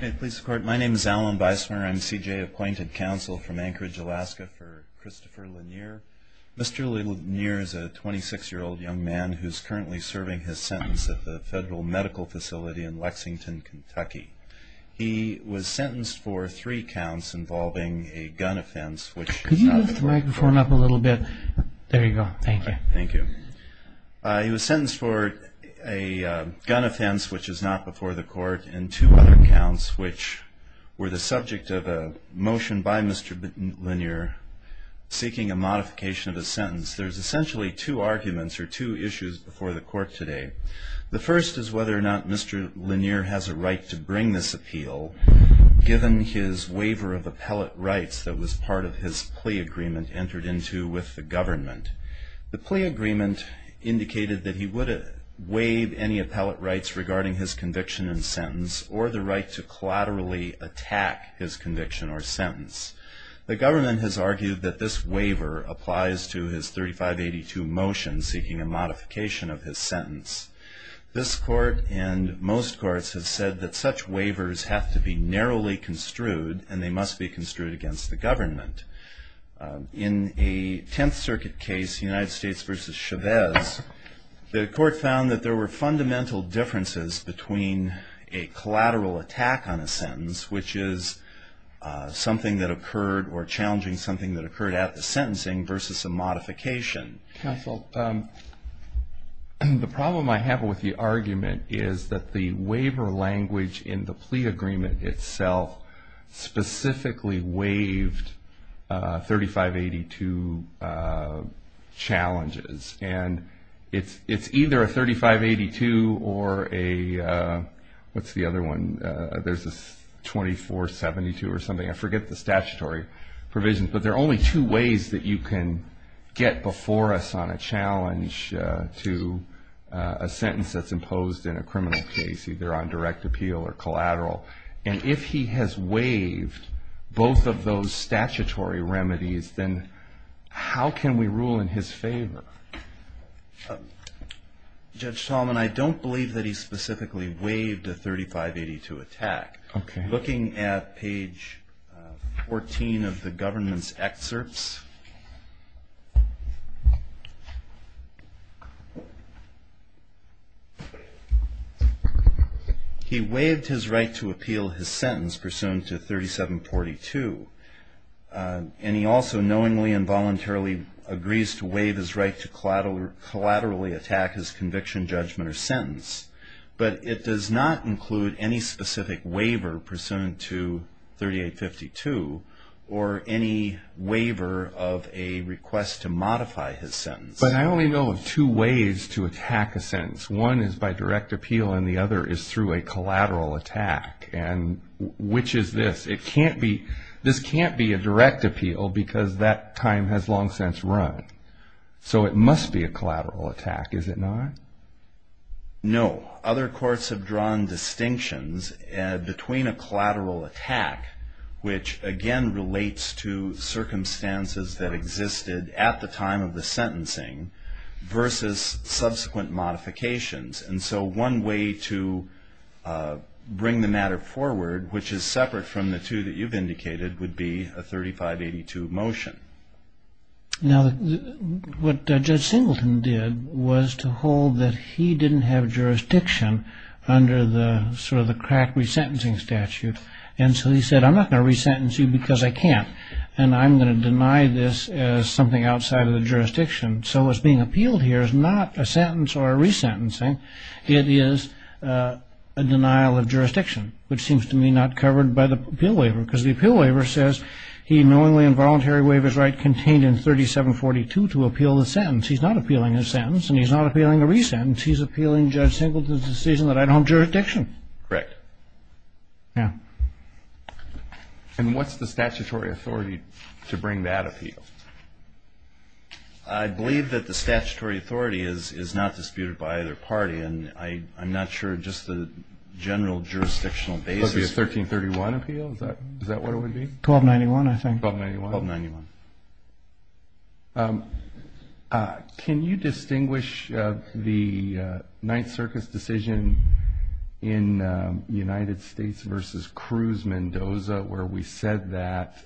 My name is Alan Beismer. I'm CJ Appointed Counsel from Anchorage, Alaska for Christopher Lenier. Mr. Lenier is a 26-year-old young man who's currently serving his sentence at the Federal Medical Facility in Lexington, Kentucky. He was sentenced for three counts involving a gun offense, which is not before the court. Could you move the microphone up a little bit? There you go. Thank you. He was sentenced for a gun offense, which is not before the court, and two other counts, which were the subject of a motion by Mr. Lenier seeking a modification of his sentence. There's essentially two arguments or two issues before the court today. The first is whether or not Mr. Lenier has a right to bring this appeal, given his waiver of appellate rights that was part of his plea agreement entered into with the government. The plea agreement indicated that he would waive any appellate rights regarding his conviction and sentence or the right to collaterally attack his conviction or sentence. The government has argued that this waiver applies to his 3582 motion seeking a modification of his sentence. This court and most courts have said that such waivers have to be narrowly construed and they must be construed against the government. In a Tenth Circuit case, the United States versus Chavez, the court found that there were fundamental differences between a collateral attack on a sentence, which is something that occurred or challenging something that occurred at the sentencing versus a modification. Counsel, the problem I have with the argument is that the waiver language in the plea agreement itself specifically waived 3582 challenges. And it's either a 3582 or a, what's the other one? There's a 2472 or something. I forget the statutory provisions, but there are only two ways that you can get before us on a challenge to a sentence that's imposed in a criminal case, either on direct appeal or collateral. And if he has waived both of those statutory remedies, then how can we rule in his favor? Judge Tallman, I don't believe that he specifically waived a 3582 attack. Okay. Looking at page 14 of the government's excerpts, he waived his right to appeal his sentence pursuant to 3742. And he also knowingly and voluntarily agrees to waive his right to collaterally attack his conviction, judgment, or sentence, but it does not include any specific waiver pursuant to 3852 or any waiver of a request to modify his sentence. But I only know of two ways to attack a sentence. One is by direct appeal and the other is through a collateral attack. And which is this? This can't be a direct appeal because that time has long since run. So it must be a collateral attack, is it not? No. Other courts have drawn distinctions between a collateral attack, which again relates to circumstances that existed at the time of the sentencing, versus subsequent modifications. And so one way to bring the matter forward, which is separate from the two that you've indicated, would be a 3582 motion. Now, what Judge Singleton did was to hold that he didn't have jurisdiction under the sort of the crack resentencing statute. And so he said, I'm not going to resentence you because I can't, and I'm going to deny this as something outside of the jurisdiction. So what's being appealed here is not a sentence or a resentencing. It is a denial of jurisdiction, which seems to me not covered by the appeal waiver, because the appeal waiver says he knowingly and voluntarily waived his right contained in 3742 to appeal the sentence. He's not appealing his sentence, and he's not appealing a resentence. He's appealing Judge Singleton's decision that I don't have jurisdiction. Correct. Yeah. And what's the statutory authority to bring that appeal? I believe that the statutory authority is not disputed by either party, and I'm not sure just the general jurisdictional basis. So it would be a 1331 appeal? Is that what it would be? 1291, I think. 1291. 1291. Can you distinguish the Ninth Circus decision in United States versus Cruz-Mendoza, where we said that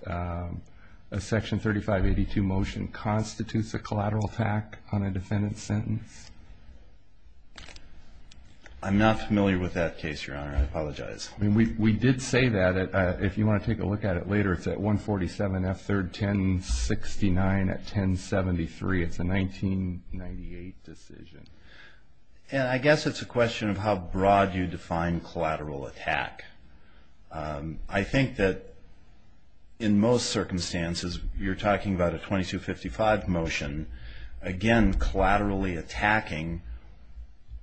a Section 3582 motion constitutes a collateral attack on a defendant's sentence? I'm not familiar with that case, Your Honor. I apologize. We did say that. If you want to take a look at it later, it's at 147 F3rd 1069 at 1073. It's a 1998 decision. I guess it's a question of how broad you define collateral attack. I think that in most circumstances you're talking about a 2255 motion, again, attacking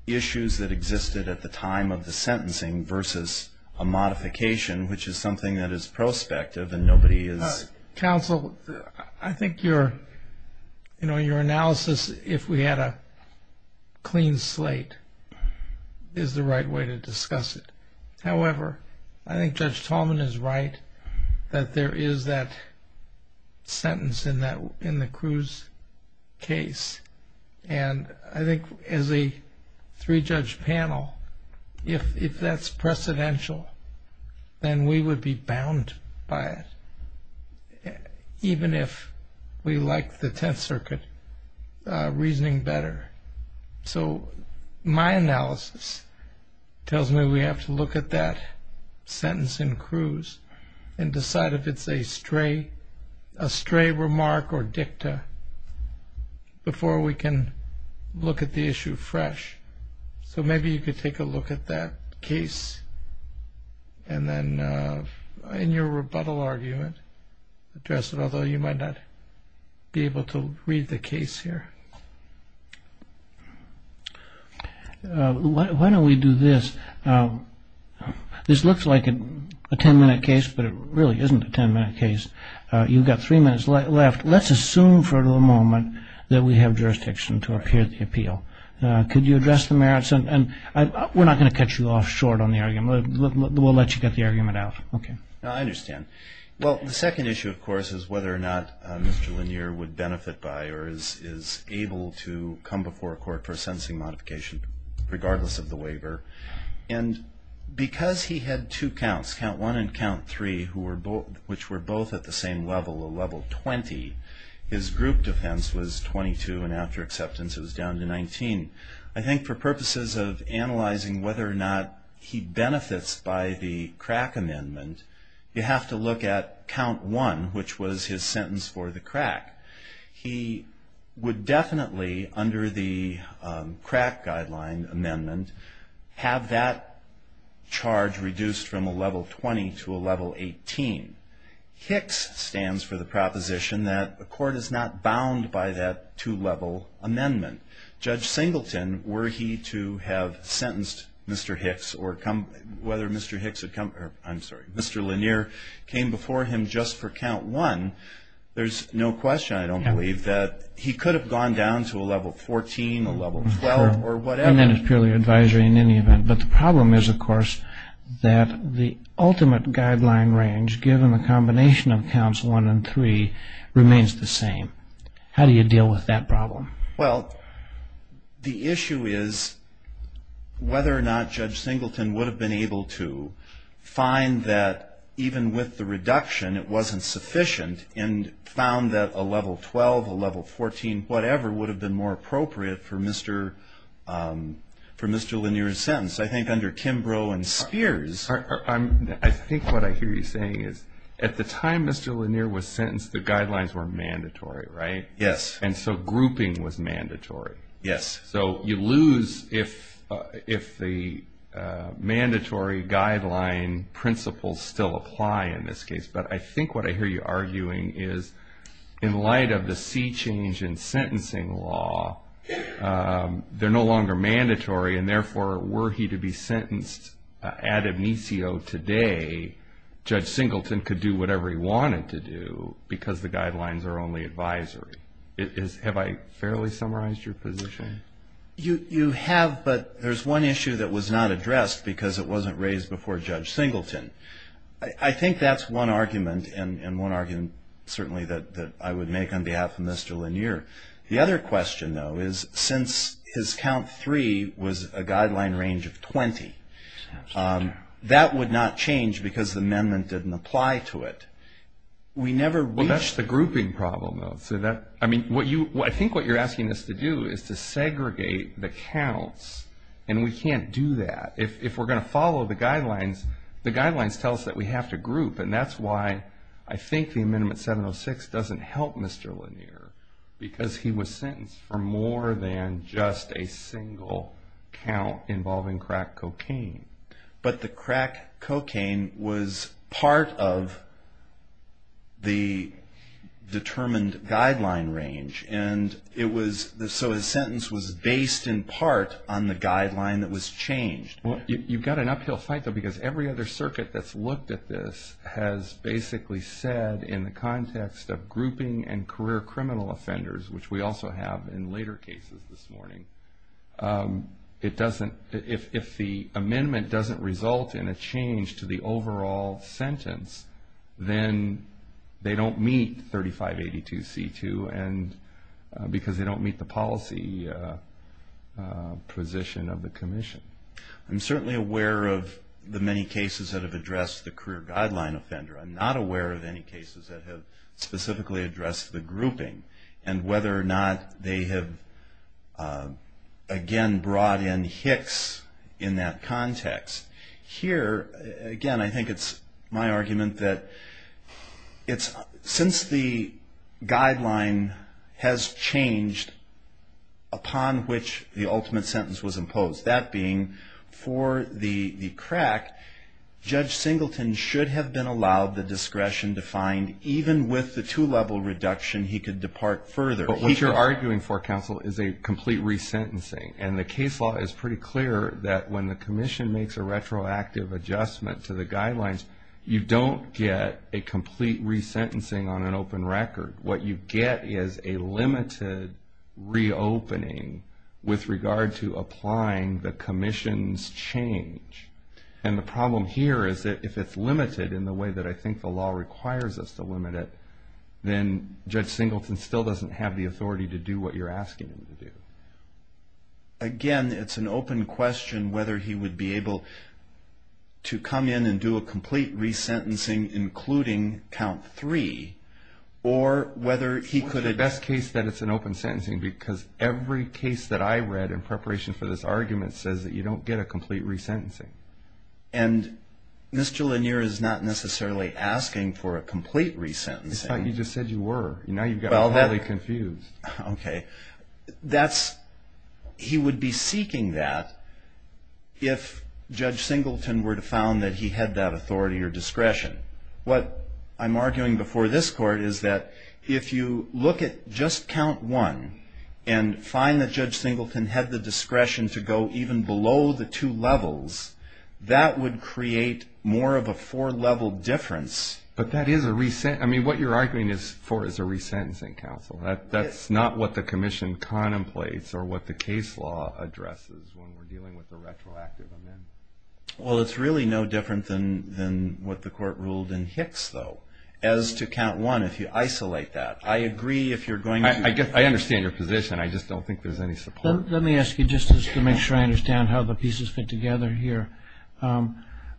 issues that existed at the time of the sentencing versus a modification, which is something that is prospective and nobody is. Counsel, I think your analysis, if we had a clean slate, is the right way to discuss it. However, I think Judge Tallman is right that there is that sentence in the Cruz case. I think as a three-judge panel, if that's precedential, then we would be bound by it, even if we like the Tenth Circuit reasoning better. So my analysis tells me we have to look at that sentence in Cruz and decide if it's a stray remark or dicta before we can look at the issue fresh. So maybe you could take a look at that case and then, in your rebuttal argument, address it, although you might not be able to read the case here. Why don't we do this? This looks like a ten-minute case, but it really isn't a ten-minute case. You've got three minutes left. Let's assume for the moment that we have jurisdiction to appear at the appeal. Could you address the merits? We're not going to cut you off short on the argument. We'll let you get the argument out. Okay. I understand. Well, the second issue, of course, is whether or not Mr. Lanier would benefit by or is able to come before court for a sentencing modification, regardless of the waiver. And because he had two counts, count one and count three, which were both at the same level, a level 20, his group defense was 22, and after acceptance it was down to 19. I think for purposes of analyzing whether or not he benefits by the CRAC amendment, you have to look at count one, which was his sentence for the CRAC. He would definitely, under the CRAC guideline amendment, have that charge reduced from a level 20 to a level 18. HICS stands for the proposition that the court is not bound by that two-level amendment. Judge Singleton, were he to have sentenced Mr. HICS, or whether Mr. Lanier came before him just for count one, there's no question, I don't believe, that he could have gone down to a level 14, a level 12, or whatever. And then it's purely advisory in any event. But the problem is, of course, that the ultimate guideline range, given the combination of counts one and three, remains the same. How do you deal with that problem? Well, the issue is whether or not Judge Singleton would have been able to find that, even with the reduction, it wasn't sufficient, and found that a level 12, a level 14, whatever, would have been more appropriate for Mr. Lanier's sentence. I think under Kimbrough and Spears. I think what I hear you saying is, at the time Mr. Lanier was sentenced, the guidelines were mandatory, right? Yes. And so grouping was mandatory. Yes. So you lose if the mandatory guideline principles still apply in this case. But I think what I hear you arguing is, in light of the sea change in sentencing law, they're no longer mandatory, and therefore, were he to be sentenced ad amicio today, Judge Singleton could do whatever he wanted to do, because the guidelines are only advisory. Have I fairly summarized your position? You have, but there's one issue that was not addressed, because it wasn't raised before Judge Singleton. I think that's one argument, and one argument certainly that I would make on behalf of Mr. Lanier. The other question, though, is since his count three was a guideline range of 20, that would not change because the amendment didn't apply to it. Well, that's the grouping problem, though. I think what you're asking us to do is to segregate the counts, and we can't do that. If we're going to follow the guidelines, the guidelines tell us that we have to group, and that's why I think the amendment 706 doesn't help Mr. Lanier, because he was sentenced for more than just a single count involving crack cocaine. But the crack cocaine was part of the determined guideline range, and so his sentence was based in part on the guideline that was changed. You've got an uphill fight, though, because every other circuit that's looked at this has basically said in the context of grouping and career criminal offenders, which we also have in later cases this morning, if the amendment doesn't result in a change to the overall sentence, then they don't meet 3582C2 because they don't meet the policy position of the commission. I'm certainly aware of the many cases that have addressed the career guideline offender. I'm not aware of any cases that have specifically addressed the grouping and whether or not they have, again, brought in Hicks in that context. Here, again, I think it's my argument that since the guideline has changed upon which the ultimate sentence was imposed, that being for the crack, Judge Singleton should have been allowed the discretion to find, even with the two-level reduction, he could depart further. But what you're arguing for, counsel, is a complete resentencing, and the case law is pretty clear that when the commission makes a retroactive adjustment to the guidelines, you don't get a complete resentencing on an open record. What you get is a limited reopening with regard to applying the commission's change. And the problem here is that if it's limited in the way that I think the law requires us to limit it, then Judge Singleton still doesn't have the authority to do what you're asking him to do. Again, it's an open question whether he would be able to come in and do a complete resentencing, including count three, or whether he could add... It's not the best case that it's an open sentencing, because every case that I read in preparation for this argument says that you don't get a complete resentencing. And Mr. Lanier is not necessarily asking for a complete resentencing. I thought you just said you were. Now you've got me highly confused. He would be seeking that if Judge Singleton were to found that he had that authority or discretion. What I'm arguing before this court is that if you look at just count one and find that Judge Singleton had the discretion to go even below the two levels, that would create more of a four-level difference. But that is a resent... I mean, what you're arguing for is a resentencing, counsel. That's not what the commission contemplates or what the case law addresses when we're dealing with the retroactive amendment. Well, it's really no different than what the court ruled in Hicks, though, as to count one, if you isolate that. I agree if you're going to... I understand your position. I just don't think there's any support. Let me ask you, just to make sure I understand how the pieces fit together here.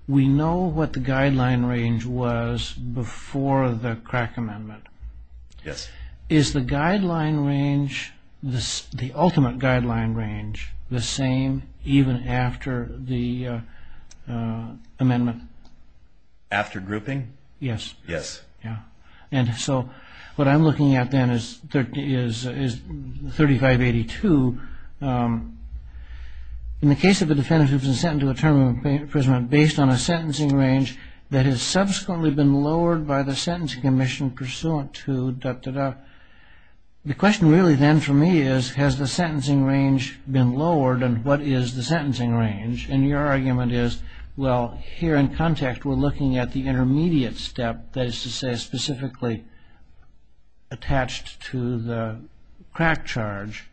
We know what the guideline range was before the crack amendment. Yes. Is the guideline range, the ultimate guideline range, the same even after the amendment? After grouping? Yes. Yes. Yeah. And so what I'm looking at then is 3582. In the case of a defendant who has been sentenced to a term of imprisonment based on a sentencing range that has subsequently been lowered by the sentencing commission pursuant to... the question really then for me is, has the sentencing range been lowered and what is the sentencing range? And your argument is, well, here in context we're looking at the intermediate step, that is to say, specifically attached to the crack charge.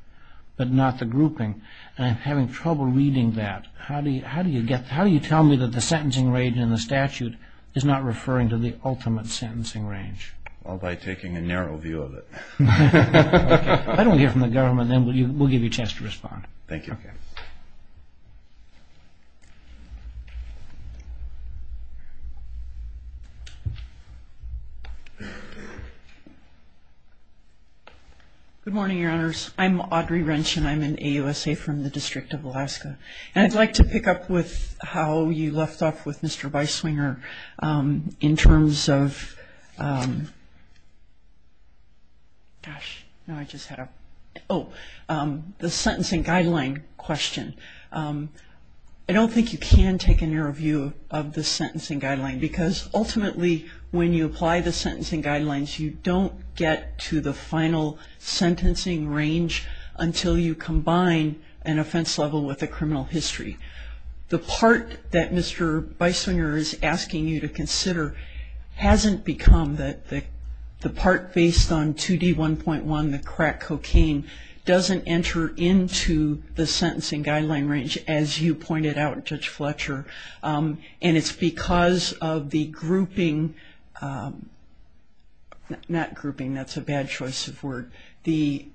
But not the grouping. And I'm having trouble reading that. How do you tell me that the sentencing range in the statute is not referring to the ultimate sentencing range? Well, by taking a narrow view of it. Okay. If I don't hear from the government, then we'll give you a chance to respond. Thank you. Okay. Good morning, Your Honors. I'm Audrey Wrench and I'm an AUSA from the District of Alaska. And I'd like to pick up with how you left off with Mr. Beiswinger in terms of... gosh, now I just had a... oh, the sentencing guideline question. I don't think you can take a narrow view of the sentencing guideline because ultimately when you apply the sentencing guidelines, you don't get to the final sentencing range until you combine an offense level with a criminal history. The part that Mr. Beiswinger is asking you to consider hasn't become the part based on 2D1.1, the crack cocaine, doesn't enter into the sentencing guideline range, as you pointed out, Judge Fletcher. And it's because of the grouping, not grouping, that's a bad choice of word, the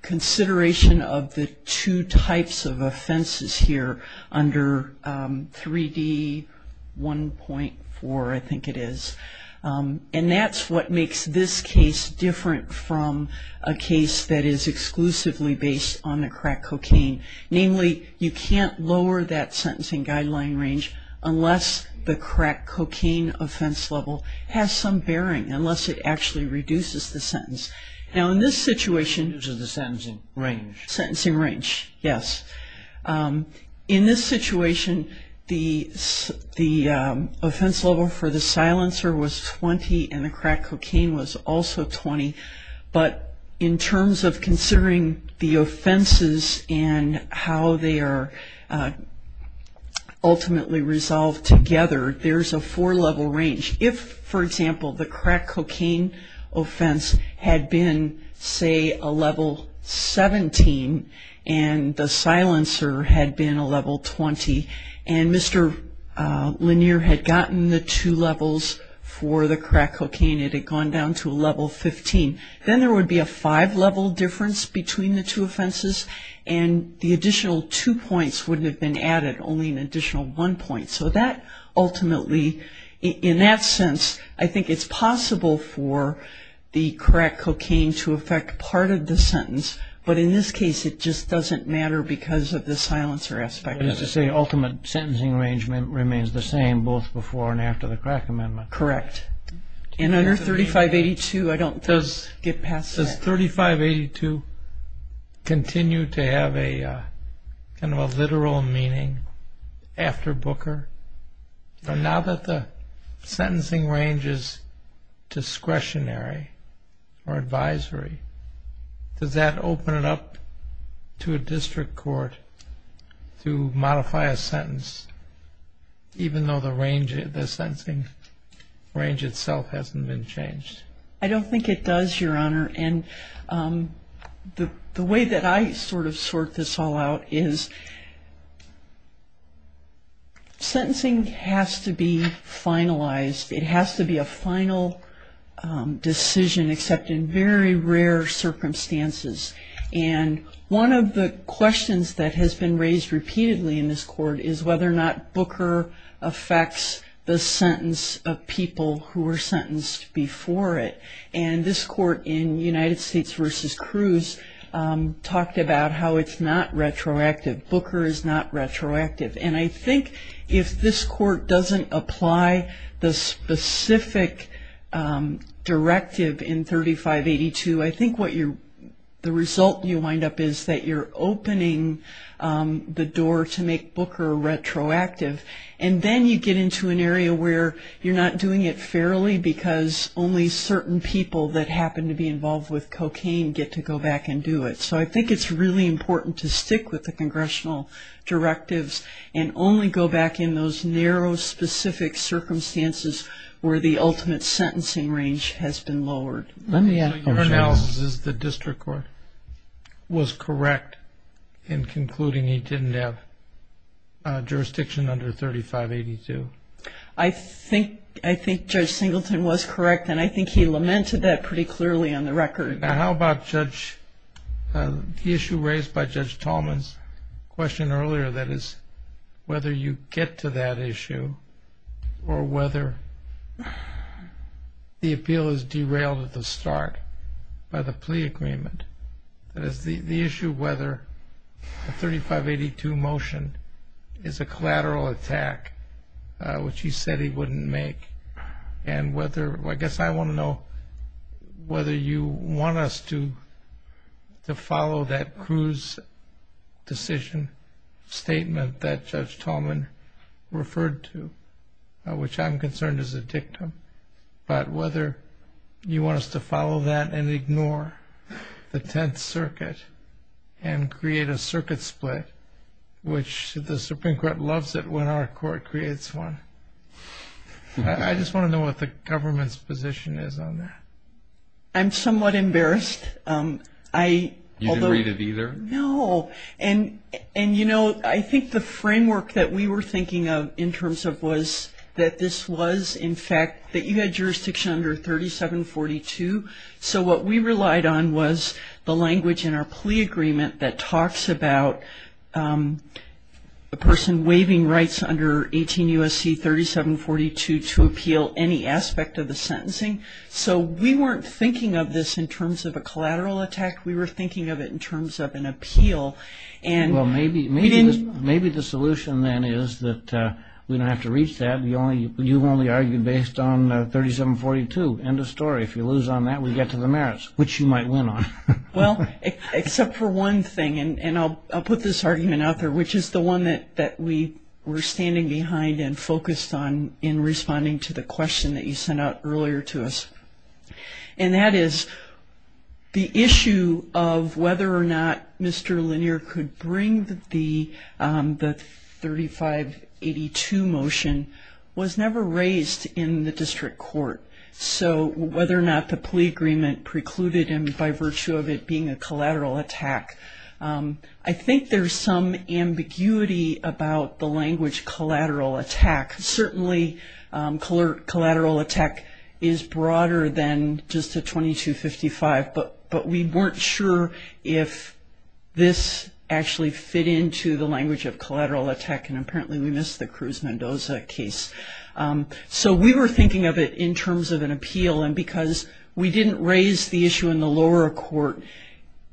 consideration of the two types of offenses here under 3D1.4, I think it is. And that's what makes this case different from a case that is exclusively based on the crack cocaine. Namely, you can't lower that sentencing guideline range unless the crack cocaine offense level has some bearing, unless it actually reduces the sentence. Now in this situation... Which is the sentencing range. Sentencing range, yes. In this situation, the offense level for the silencer was 20 and the crack cocaine was also 20. But in terms of considering the offenses and how they are ultimately resolved together, there's a four-level range. If, for example, the crack cocaine offense had been, say, a level 17, and the silencer had been a level 20, and Mr. Lanier had gotten the two levels for the crack cocaine, it had gone down to a level 15, then there would be a five-level difference between the two offenses and the additional two points wouldn't have been added, only an additional one point. So that ultimately, in that sense, I think it's possible for the crack cocaine to affect part of the sentence. But in this case, it just doesn't matter because of the silencer aspect. But as you say, ultimate sentencing arrangement remains the same both before and after the crack amendment. Correct. And under 3582, I don't get past that. Does 3582 continue to have kind of a literal meaning after Booker? Now that the sentencing range is discretionary or advisory, does that open it up to a district court to modify a sentence, even though the range itself hasn't been changed? I don't think it does, Your Honor. And the way that I sort of sort this all out is sentencing has to be finalized. It has to be a final decision, except in very rare circumstances. And one of the questions that has been raised repeatedly in this court is whether or not Booker affects the sentence of people who were sentenced before it. And this court in United States v. Cruz talked about how it's not retroactive. Booker is not retroactive. And I think if this court doesn't apply the specific directive in 3582, I think the result you wind up is that you're opening the door to make Booker retroactive, and then you get into an area where you're not doing it fairly because only certain people that happen to be involved with cocaine get to go back and do it. So I think it's really important to stick with the congressional directives and only go back in those narrow specific circumstances where the ultimate sentencing range has been lowered. So your analysis is the district court was correct in concluding he didn't have jurisdiction under 3582? I think Judge Singleton was correct, and I think he lamented that pretty clearly on the record. And how about the issue raised by Judge Tallman's question earlier, that is whether you get to that issue or whether the appeal is derailed at the start by the plea agreement? That is the issue whether the 3582 motion is a collateral attack, which he said he wouldn't make, and I guess I want to know whether you want us to follow that Cruz decision statement that Judge Tallman referred to, which I'm concerned is a dictum, but whether you want us to follow that and ignore the Tenth Circuit and create a circuit split, which the Supreme Court loves it when our court creates one. I just want to know what the government's position is on that. I'm somewhat embarrassed. You didn't read it either? No. And, you know, I think the framework that we were thinking of in terms of was that this was, in fact, that you had jurisdiction under 3742, so what we relied on was the language in our plea agreement that talks about a person waiving rights under 18 U.S.C. 3742 to appeal any aspect of the sentencing. So we weren't thinking of this in terms of a collateral attack. We were thinking of it in terms of an appeal. Well, maybe the solution then is that we don't have to reach that. You've only argued based on 3742. End of story. If you lose on that, we get to the merits, which you might win on. Well, except for one thing, and I'll put this argument out there, which is the one that we were standing behind and focused on in responding to the question that you sent out earlier to us, and that is the issue of whether or not Mr. Lanier could bring the 3582 motion was never raised in the district court. So whether or not the plea agreement precluded him by virtue of it being a collateral attack, I think there's some ambiguity about the language collateral attack. Certainly collateral attack is broader than just a 2255, but we weren't sure if this actually fit into the language of collateral attack, and apparently we missed the Cruz Mendoza case. So we were thinking of it in terms of an appeal, and because we didn't raise the issue in the lower court,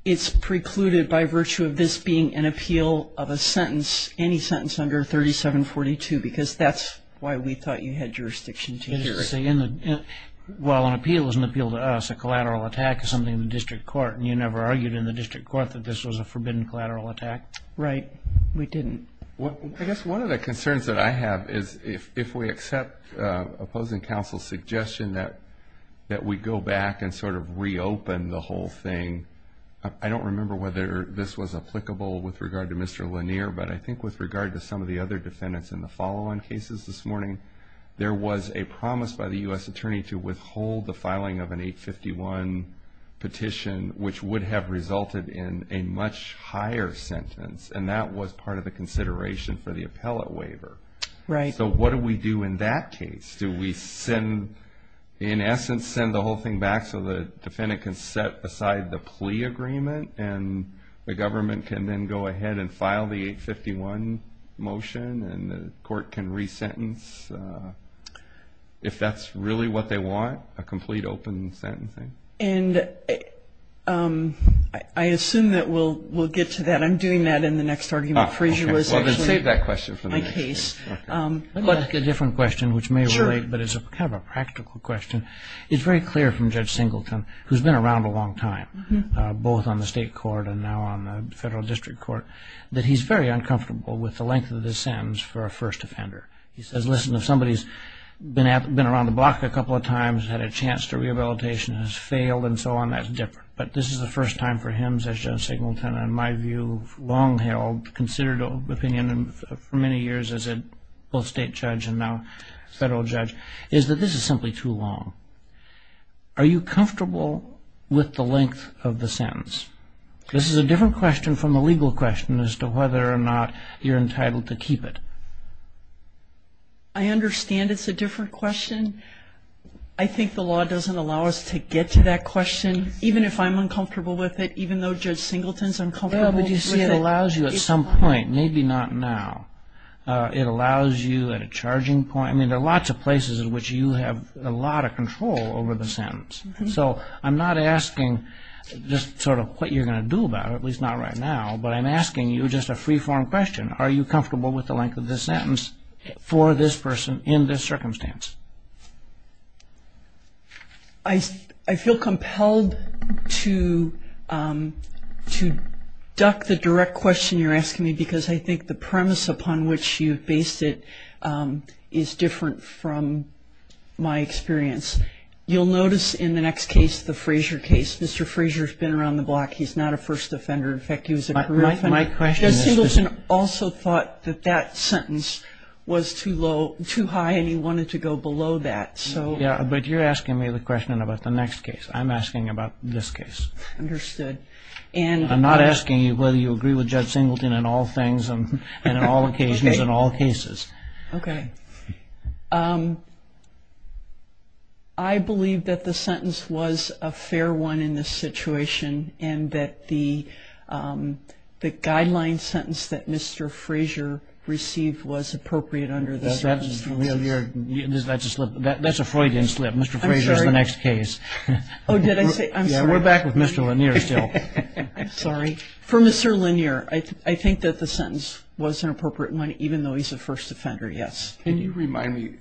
it's precluded by virtue of this being an appeal of a sentence, any sentence under 3742, because that's why we thought you had jurisdiction to hear it. Well, an appeal is an appeal to us. A collateral attack is something in the district court, and you never argued in the district court that this was a forbidden collateral attack. Right. We didn't. I guess one of the concerns that I have is if we accept opposing counsel's suggestion that we go back and sort of reopen the whole thing, I don't remember whether this was applicable with regard to Mr. Lanier, but I think with regard to some of the other defendants in the follow-on cases this morning, there was a promise by the U.S. attorney to withhold the filing of an 851 petition, which would have resulted in a much higher sentence, and that was part of the consideration for the appellate waiver. Right. So what do we do in that case? Do we, in essence, send the whole thing back so the defendant can set aside the plea agreement and the government can then go ahead and file the 851 motion and the court can resentence if that's really what they want, a complete open sentencing? And I assume that we'll get to that. I'm doing that in the next argument. Well, then save that question for the next case. Let me ask a different question, which may relate, but it's kind of a practical question. It's very clear from Judge Singleton, who's been around a long time, both on the state court and now on the federal district court, that he's very uncomfortable with the length of the sentence for a first offender. He says, listen, if somebody's been around the block a couple of times, had a chance to rehabilitation, has failed, and so on, that's different. But this is the first time for him, as Judge Singleton, in my view, long-held, considered opinion for many years as both state judge and now federal judge, is that this is simply too long. Are you comfortable with the length of the sentence? This is a different question from a legal question as to whether or not you're entitled to keep it. I understand it's a different question. I think the law doesn't allow us to get to that question. Even if I'm uncomfortable with it, even though Judge Singleton's uncomfortable with it? It allows you at some point, maybe not now, it allows you at a charging point. I mean, there are lots of places in which you have a lot of control over the sentence. So I'm not asking just sort of what you're going to do about it, at least not right now, but I'm asking you just a free-form question. Are you comfortable with the length of the sentence for this person in this circumstance? I feel compelled to duck the direct question you're asking me because I think the premise upon which you've based it is different from my experience. You'll notice in the next case, the Frazier case, Mr. Frazier's been around the block. He's not a first offender. In fact, he was a career offender. My question is just – Judge Singleton also thought that that sentence was too high and he wanted to go below that. Yeah, but you're asking me the question about the next case. I'm asking about this case. Understood. I'm not asking you whether you agree with Judge Singleton on all things and on all occasions and all cases. Okay. I believe that the sentence was a fair one in this situation and that the guideline sentence that Mr. Frazier received was appropriate under the sentence. That's a Freudian slip. Mr. Frazier's the next case. Oh, did I say – Yeah, we're back with Mr. Lanier still. I'm sorry. For Mr. Lanier, I think that the sentence was an appropriate one even though he's a first offender, yes. Can you remind me,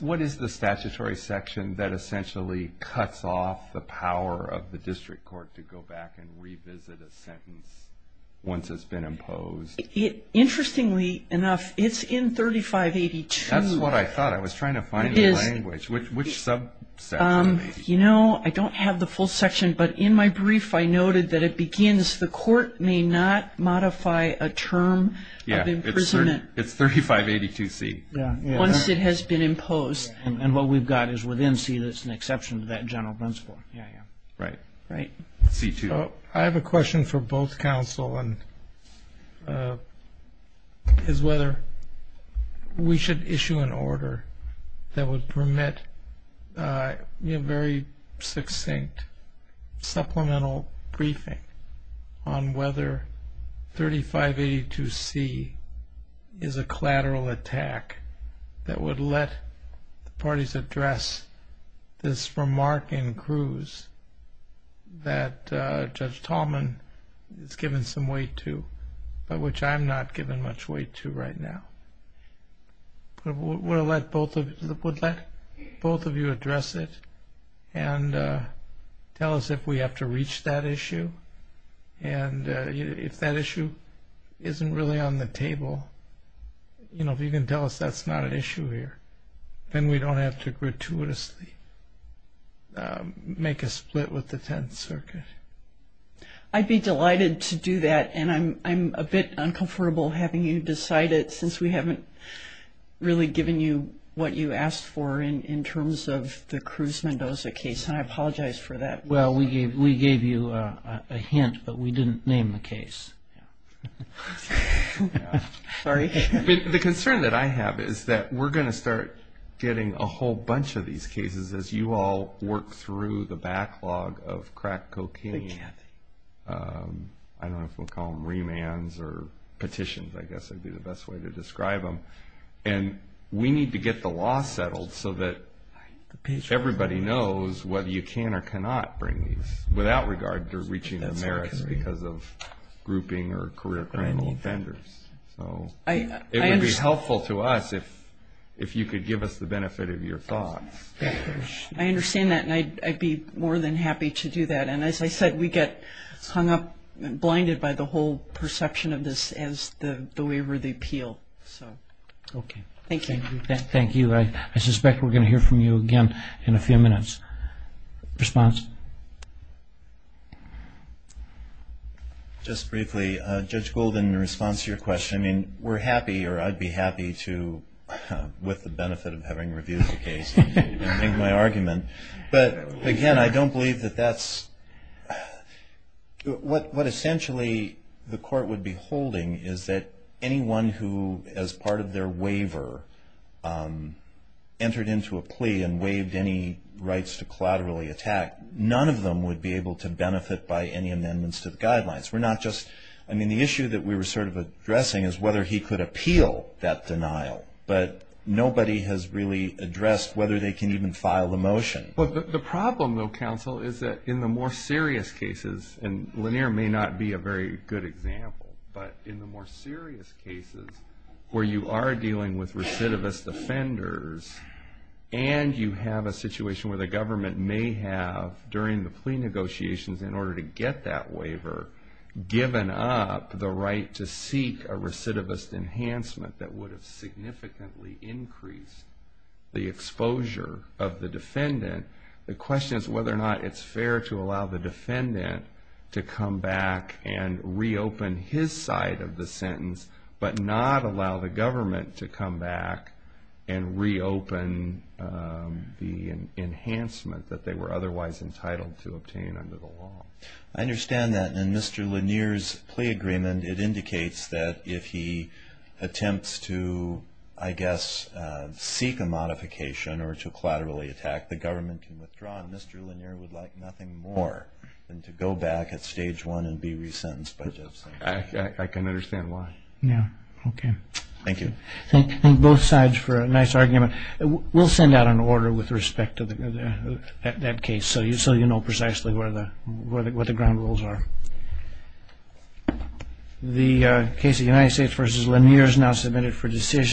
what is the statutory section that essentially cuts off the power of the district court to go back and revisit a sentence once it's been imposed? Interestingly enough, it's in 3582. That's what I thought. I was trying to find the language. Which subsection? You know, I don't have the full section, but in my brief I noted that it begins, the court may not modify a term of imprisonment – Yeah, it's 3582C. Once it has been imposed. And what we've got is within C that's an exception to that general principle. Yeah, yeah. Right. Right. C2. I have a question for both counsel, is whether we should issue an order that would permit a very succinct supplemental briefing on whether 3582C is a collateral attack that would let the parties address this remark in Cruz that Judge Tallman has given some weight to, but which I'm not giving much weight to right now. Would that both of you address it and tell us if we have to reach that issue? And if that issue isn't really on the table, you know, if you can tell us that's not an issue here, then we don't have to gratuitously make a split with the Tenth Circuit. I'd be delighted to do that, and I'm a bit uncomfortable having you decide it since we haven't really given you what you asked for in terms of the Cruz-Mendoza case, and I apologize for that. Well, we gave you a hint, but we didn't name the case. Sorry. The concern that I have is that we're going to start getting a whole bunch of these cases as you all work through the backlog of crack cocaine. I don't know if we'll call them remands or petitions, I guess would be the best way to describe them. And we need to get the law settled so that everybody knows whether you can or cannot bring these without regard to reaching the merits because of grouping or career criminal offenders. So it would be helpful to us if you could give us the benefit of your thoughts. I understand that, and I'd be more than happy to do that. And as I said, we get hung up and blinded by the whole perception of this as the waiver of the appeal. Okay. Thank you. Thank you. I suspect we're going to hear from you again in a few minutes. Response? Just briefly, Judge Golden, in response to your question, I mean, we're happy or I'd be happy to, with the benefit of having reviewed the case, make my argument. But, again, I don't believe that that's – what essentially the court would be holding is that anyone who, as part of their waiver, entered into a plea and waived any rights to collaterally attack, none of them would be able to benefit by any amendments to the guidelines. We're not just – I mean, the issue that we were sort of addressing is whether he could appeal that denial. But nobody has really addressed whether they can even file the motion. The problem, though, counsel, is that in the more serious cases, and Lanier may not be a very good example, but in the more serious cases where you are dealing with recidivist offenders and you have a situation where the government may have, during the plea negotiations, in order to get that waiver, given up the right to seek a recidivist enhancement that would have significantly increased the exposure of the defendant, the question is whether or not it's fair to allow the defendant to come back and reopen his side of the sentence but not allow the government to come back and reopen the enhancement that they were otherwise entitled to obtain under the law. I understand that. And in Mr. Lanier's plea agreement, it indicates that if he attempts to, I guess, seek a modification or to collaterally attack, the government can withdraw, and Mr. Lanier would like nothing more than to go back at stage one and be resentenced by Justice. I can understand why. Yeah, okay. Thank you. Thank both sides for a nice argument. We'll send out an order with respect to that case so you know precisely what the ground rules are. The case of United States v. Lanier is now submitted for decision.